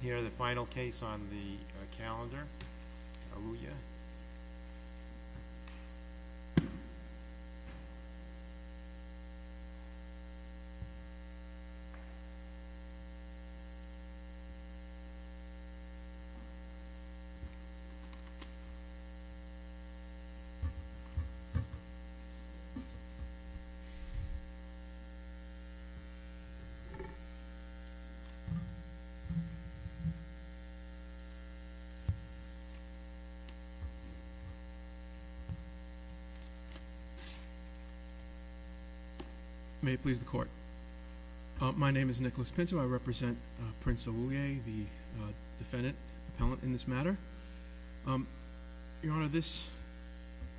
Here the final case on the calendar, Awulye. May it please the court. My name is Nicholas Pinto. I represent Prince Awulye, the defendant, appellant in this matter. Your Honor, this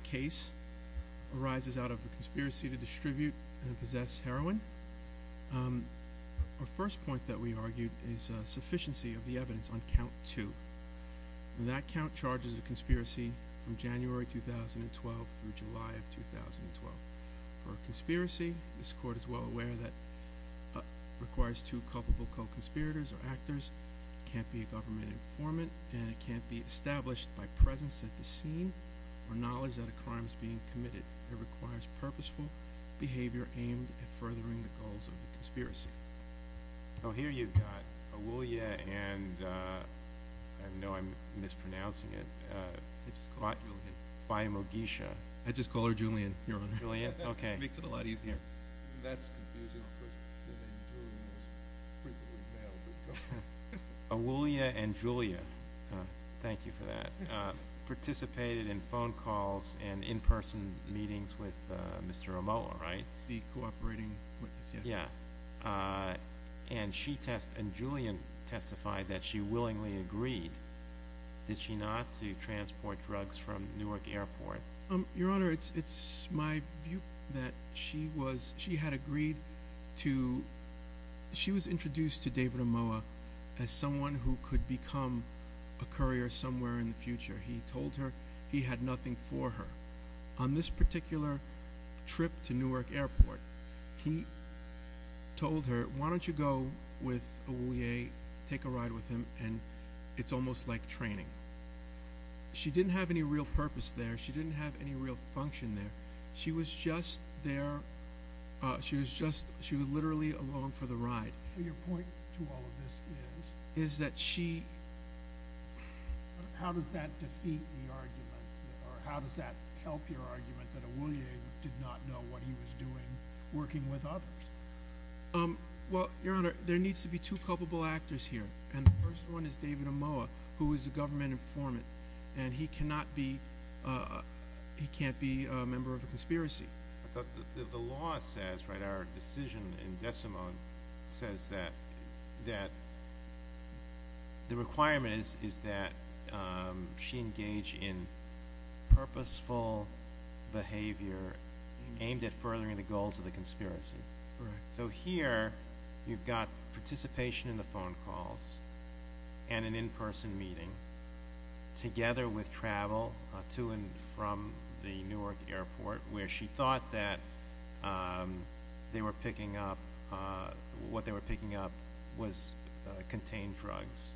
case arises out of a conspiracy to distribute and possess heroin. Our first point that we argued is sufficiency of the evidence on count two. That count charges a conspiracy from January 2012 through July of 2012. For a conspiracy, this court is well aware that it requires two culpable co-conspirators or actors. It can't be a government informant and it can't be established by presence at the scene or knowledge that a crime is being committed. It requires purposeful behavior aimed at furthering the goals of the conspiracy. Oh, here you've got Awulye and, I know I'm mispronouncing it, Byamogesha. I just call her Julian, Your Honor. Julia? Okay. It makes it a lot easier. That's confusing. Awulye and Julia. Thank you for that. Participated in phone calls and in-person meetings. Mr. Omoa, right? The cooperating witness, yes. Yeah. And she testified, and Julian testified, that she willingly agreed, did she not, to transport drugs from Newark Airport? Your Honor, it's my view that she was, she had agreed to, she was introduced to David Omoa as someone who could become a courier somewhere in the future. He told her he had nothing for her. On this particular trip to Newark Airport, he told her, why don't you go with Awulye, take a ride with him, and it's almost like training. She didn't have any real purpose there. She didn't have any real function there. She was just there, she was just, she was literally along for the ride. Your point to all of this is? Is that she... How does that defeat the argument, or how does that help your argument that Awulye did not know what he was doing working with others? Well, Your Honor, there needs to be two culpable actors here, and the first one is David Omoa, who is a government informant, and he cannot be, he can't be a member of a conspiracy. The law says, right, our decision in Desimone says that the requirement is that she engage in purposeful behavior aimed at furthering the goals of the conspiracy. So here, you've got participation in the phone calls, and an in-person meeting, together with travel to and from the Newark airport, where she thought that they were picking up, what they were picking up was contained drugs.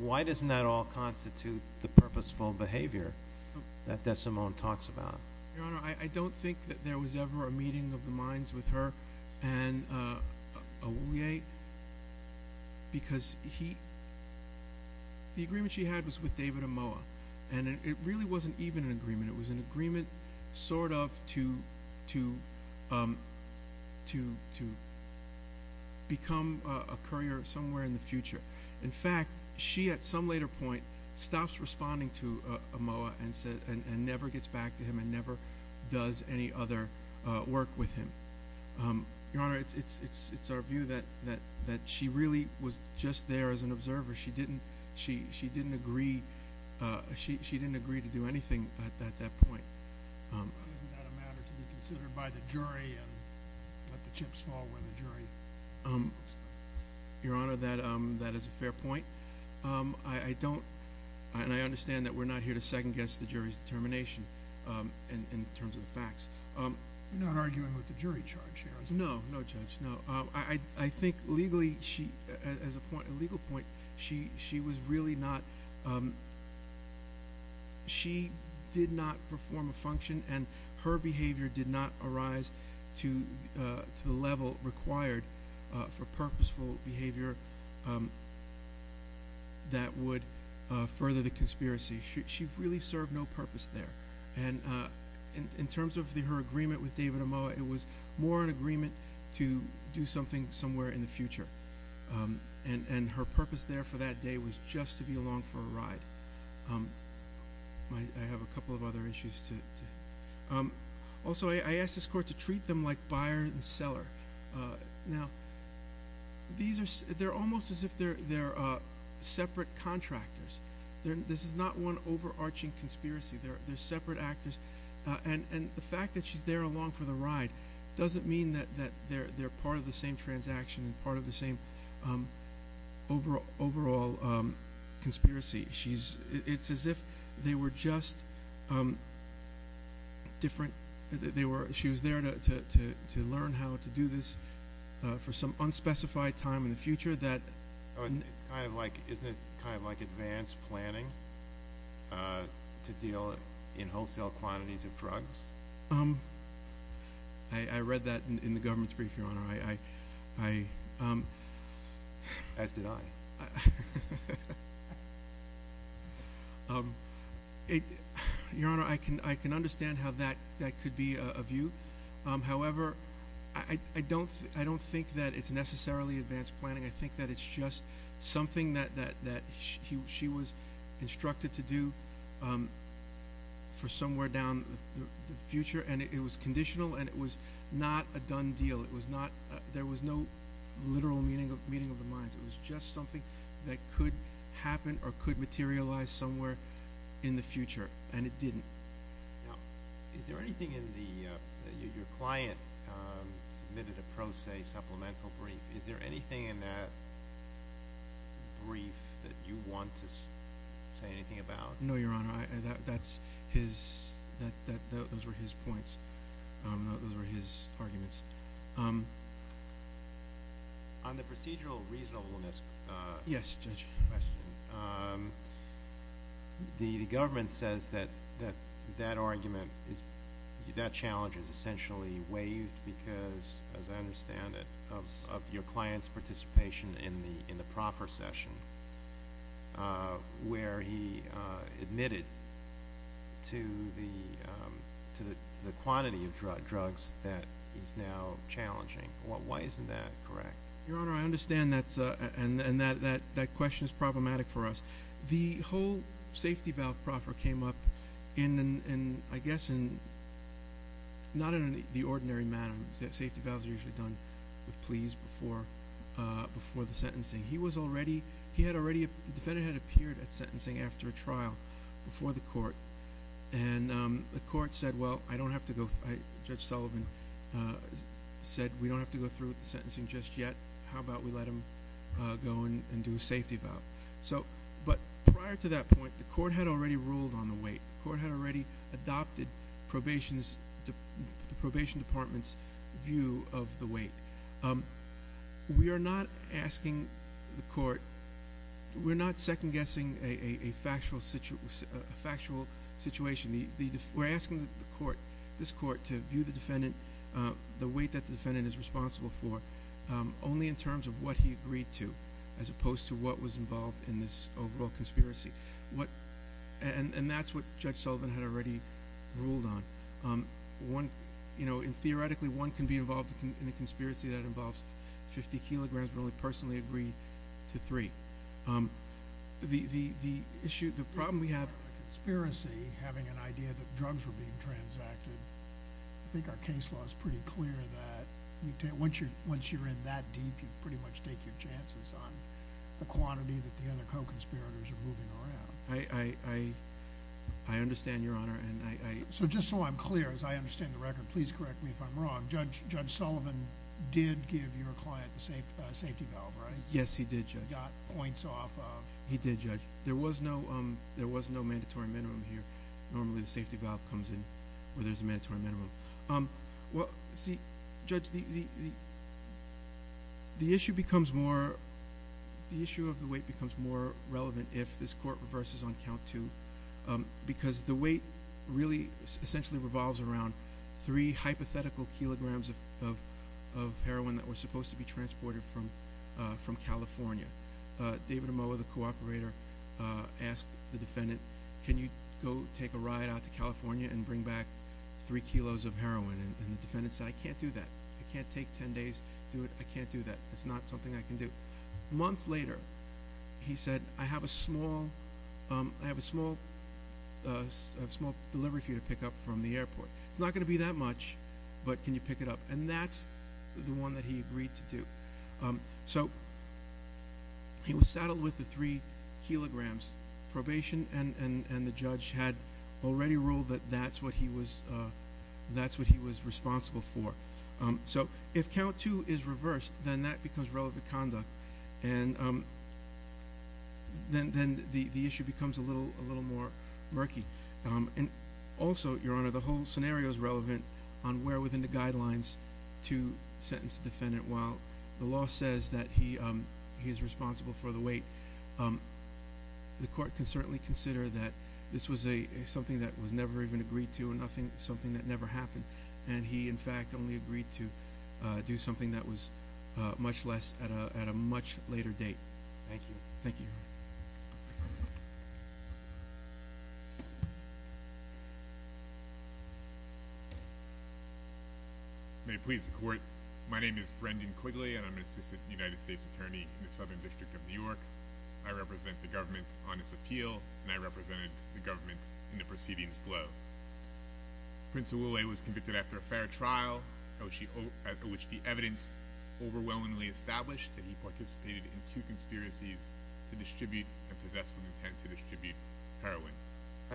Why doesn't that all constitute the purposeful behavior that Desimone talks about? Your Honor, I don't think that there was ever a meeting of the minds with her and Awulye, because he, the agreement she had was with David Omoa, and it really wasn't even an agreement. It was an agreement, sort of, to become a courier somewhere in the future. In fact, she, at some later point, stops responding to Omoa, and never gets back to him, and never does any other work with him. Your Honor, it's our view that she really was just there as an observer. She didn't agree to do anything at that point. Isn't that a matter to be considered by the jury, and let the chips fall where the jury puts them? Your Honor, that is a fair point. I don't, and I understand that we're not here to second-guess the jury's determination in terms of the facts. You're not arguing with the jury charge here, are you? No, no, Judge, no. I think legally, as a legal point, she was really not, she did not perform a function, and her behavior did not arise to the level required for purposeful behavior that would further the conspiracy. She really served no purpose there. In terms of her agreement with David Omoa, it was more an agreement to do something somewhere in the future, and her purpose there for that day was just to be along for a ride. I have a couple of other issues. Also, I asked this Court to treat them like buyer and seller. Now, they're almost as if they're separate contractors. This is not one overarching conspiracy. They're separate actors. And the fact that she's there along for the ride doesn't mean that they're part of the same transaction and part of the same overall conspiracy. It's as if they were just different, that she was there to learn how to do this for some unspecified time in the future. Isn't it kind of like advanced planning to deal in wholesale quantities of drugs? I read that in the government's brief, Your Honor. As did I. Your Honor, I can understand how that could be a view. However, I don't think that it's necessarily advanced planning. I think that it's just something that she was instructed to do for somewhere down the future, and it was conditional, and it was not a done deal. There was no literal meeting of the minds. It was just something that could happen or could materialize somewhere in the future, and it didn't. Now, is there anything in the – your client submitted a pro se supplemental brief. Is there anything in that brief that you want to say anything about? No, Your Honor. Those were his points. Those were his arguments. On the procedural reasonableness question, the government says that that argument is – because, as I understand it, of your client's participation in the proffer session, where he admitted to the quantity of drugs that is now challenging. Why isn't that correct? Your Honor, I understand that, and that question is problematic for us. The whole safety valve proffer came up in, I guess, not in the ordinary manner. Safety valves are usually done with pleas before the sentencing. He was already – he had already – the defendant had appeared at sentencing after a trial before the court, and the court said, well, I don't have to go – Judge Sullivan said, we don't have to go through with the sentencing just yet. How about we let him go and do a safety valve? But prior to that point, the court had already ruled on the weight. The court had already adopted the probation department's view of the weight. We are not asking the court – we're not second-guessing a factual situation. We're asking the court, this court, to view the defendant, the weight that the defendant is responsible for, only in terms of what he agreed to, as opposed to what was involved in this overall conspiracy. And that's what Judge Sullivan had already ruled on. Theoretically, one can be involved in a conspiracy that involves 50 kilograms, but only personally agree to three. The issue – the problem we have – In terms of a conspiracy, having an idea that drugs were being transacted, I think our case law is pretty clear that once you're in that deep, you pretty much take your chances on the quantity that the other co-conspirators are moving around. I understand, Your Honor, and I – So just so I'm clear, as I understand the record, please correct me if I'm wrong, Judge Sullivan did give your client the safety valve, right? Yes, he did, Judge. He got points off of – He did, Judge. There was no mandatory minimum here. Normally the safety valve comes in where there's a mandatory minimum. Well, see, Judge, the issue becomes more – the issue of the weight becomes more relevant if this court reverses on count two, because the weight really essentially revolves around three hypothetical kilograms of heroin that was supposed to be transported from California. David Amoah, the co-operator, asked the defendant, can you go take a ride out to California and bring back three kilos of heroin? And the defendant said, I can't do that. I can't take ten days to do it. I can't do that. It's not something I can do. Months later, he said, I have a small delivery for you to pick up from the airport. It's not going to be that much, but can you pick it up? And that's the one that he agreed to do. So he was saddled with the three kilograms. Probation and the judge had already ruled that that's what he was responsible for. So if count two is reversed, then that becomes relevant conduct, and then the issue becomes a little more murky. And also, Your Honor, the whole scenario is relevant on where within the guidelines to sentence the defendant while the law says that he is responsible for the weight. The court can certainly consider that this was something that was never even agreed to and something that never happened, and he, in fact, only agreed to do something that was much less at a much later date. Thank you. Thank you. May it please the court, my name is Brendan Quigley, and I'm an assistant United States attorney in the Southern District of New York. I represent the government on this appeal, and I represented the government in the proceedings below. Prince Oulay was convicted after a fair trial, of which the evidence overwhelmingly established that he participated in two conspiracies to distribute and possess with intent to distribute heroin.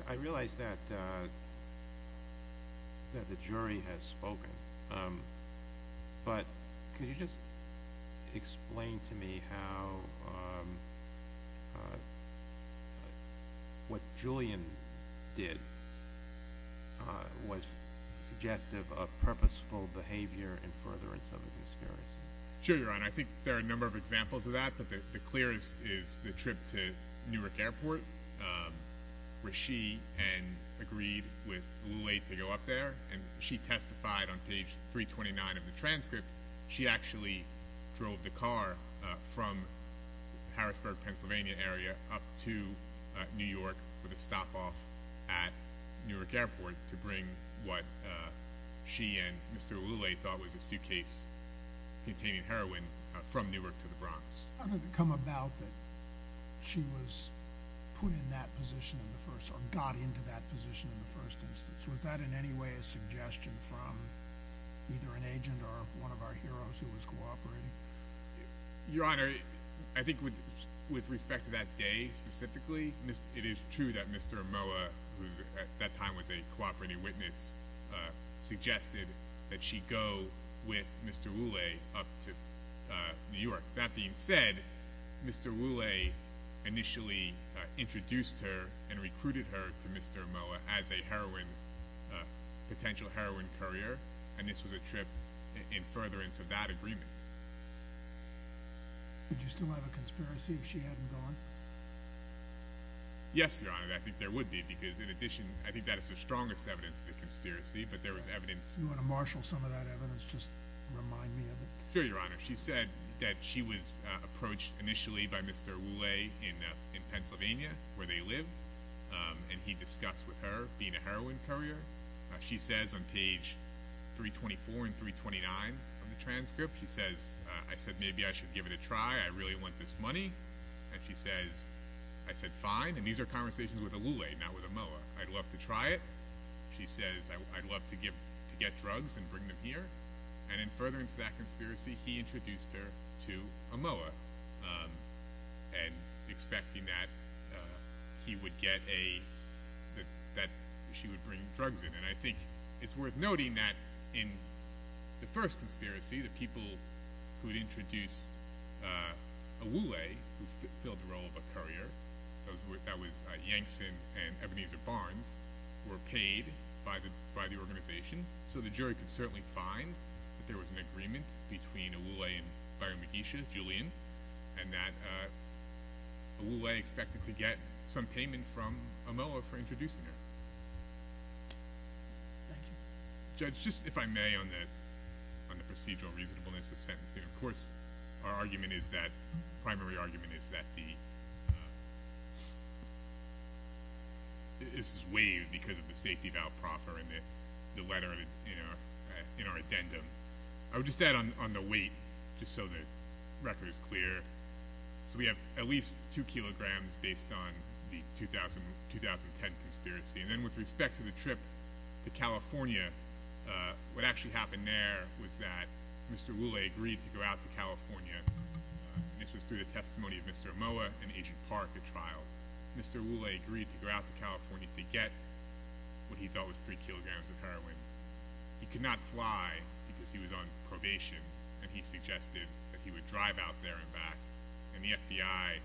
I realize that the jury has spoken, but could you just explain to me how what Julian did was suggestive of purposeful behavior in furtherance of the conspiracy? Sure, Your Honor. I think there are a number of examples of that, but the clearest is the trip to Newark Airport, where she agreed with Oulay to go up there, and she testified on page 329 of the transcript. She actually drove the car from Harrisburg, Pennsylvania area, up to New York with a stop off at Newark Airport to bring what she and Mr. Oulay thought was a suitcase containing heroin from Newark to the Bronx. How did it come about that she was put in that position in the first, or got into that position in the first instance? Was that in any way a suggestion from either an agent or one of our heroes who was cooperating? Your Honor, I think with respect to that day specifically, it is true that Mr. Oulay, who at that time was a cooperating witness, suggested that she go with Mr. Oulay up to New York. That being said, Mr. Oulay initially introduced her and recruited her to Mr. Oulay as a potential heroin courier, and this was a trip in furtherance of that agreement. Would you still have a conspiracy if she hadn't gone? Yes, Your Honor, I think there would be, because in addition, I think that is the strongest evidence of the conspiracy, but there was evidence... If you want to marshal some of that evidence, just remind me of it. Sure, Your Honor. She said that she was approached initially by Mr. Oulay in Pennsylvania, where they lived, and he discussed with her being a heroin courier. She says on page 324 and 329 of the transcript, she says, I said maybe I should give it a try, I really want this money, and she says, I said fine, and these are conversations with Oulay, not with Omoa. I'd love to try it, she says, I'd love to get drugs and bring them here, and in furtherance of that conspiracy, he introduced her to Omoa, and expecting that she would bring drugs in, and I think it's worth noting that in the first conspiracy, the people who had introduced Oulay, who filled the role of a courier, that was Yankson and Ebenezer Barnes, were paid by the organization, so the jury could certainly find that there was an agreement between Oulay and Byron Medici, Julian, and that Oulay expected to get some payment from Omoa for introducing her. Thank you. Judge, just if I may on the procedural reasonableness of sentencing, of course our argument is that, primary argument is that this is waived because of the safety of Al Proffer and the letter in our addendum. I would just add on the weight, just so the record is clear. So we have at least two kilograms based on the 2010 conspiracy, and then with respect to the trip to California, what actually happened there was that Mr. Oulay agreed to go out to California, and this was through the testimony of Mr. Omoa and Agent Park at trial. Mr. Oulay agreed to go out to California to get what he thought was three kilograms of heroin. He could not fly because he was on probation, and he suggested that he would drive out there and back, and the FBI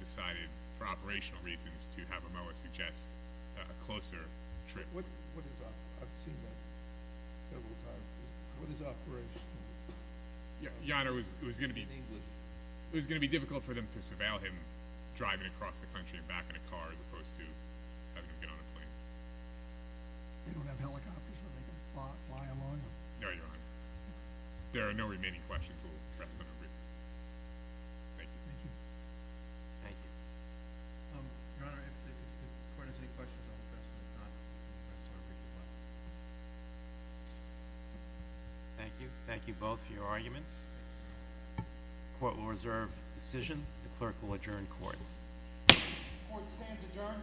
decided for operational reasons to have Omoa suggest a closer trip. I've seen that several times. What is operational? Your Honor, it was going to be difficult for them to surveil him driving across the country and back in a car as opposed to having him get on a plane. They don't have helicopters where they can fly alone. No, Your Honor. There are no remaining questions. We'll rest on our brief. Thank you. Thank you. Thank you. Your Honor, if the Court has any questions, I'll address them. If not, I'll address them briefly. Thank you. Thank you both for your arguments. The Court will reserve decision. The Clerk will adjourn Court. The Court stands adjourned. Thank you.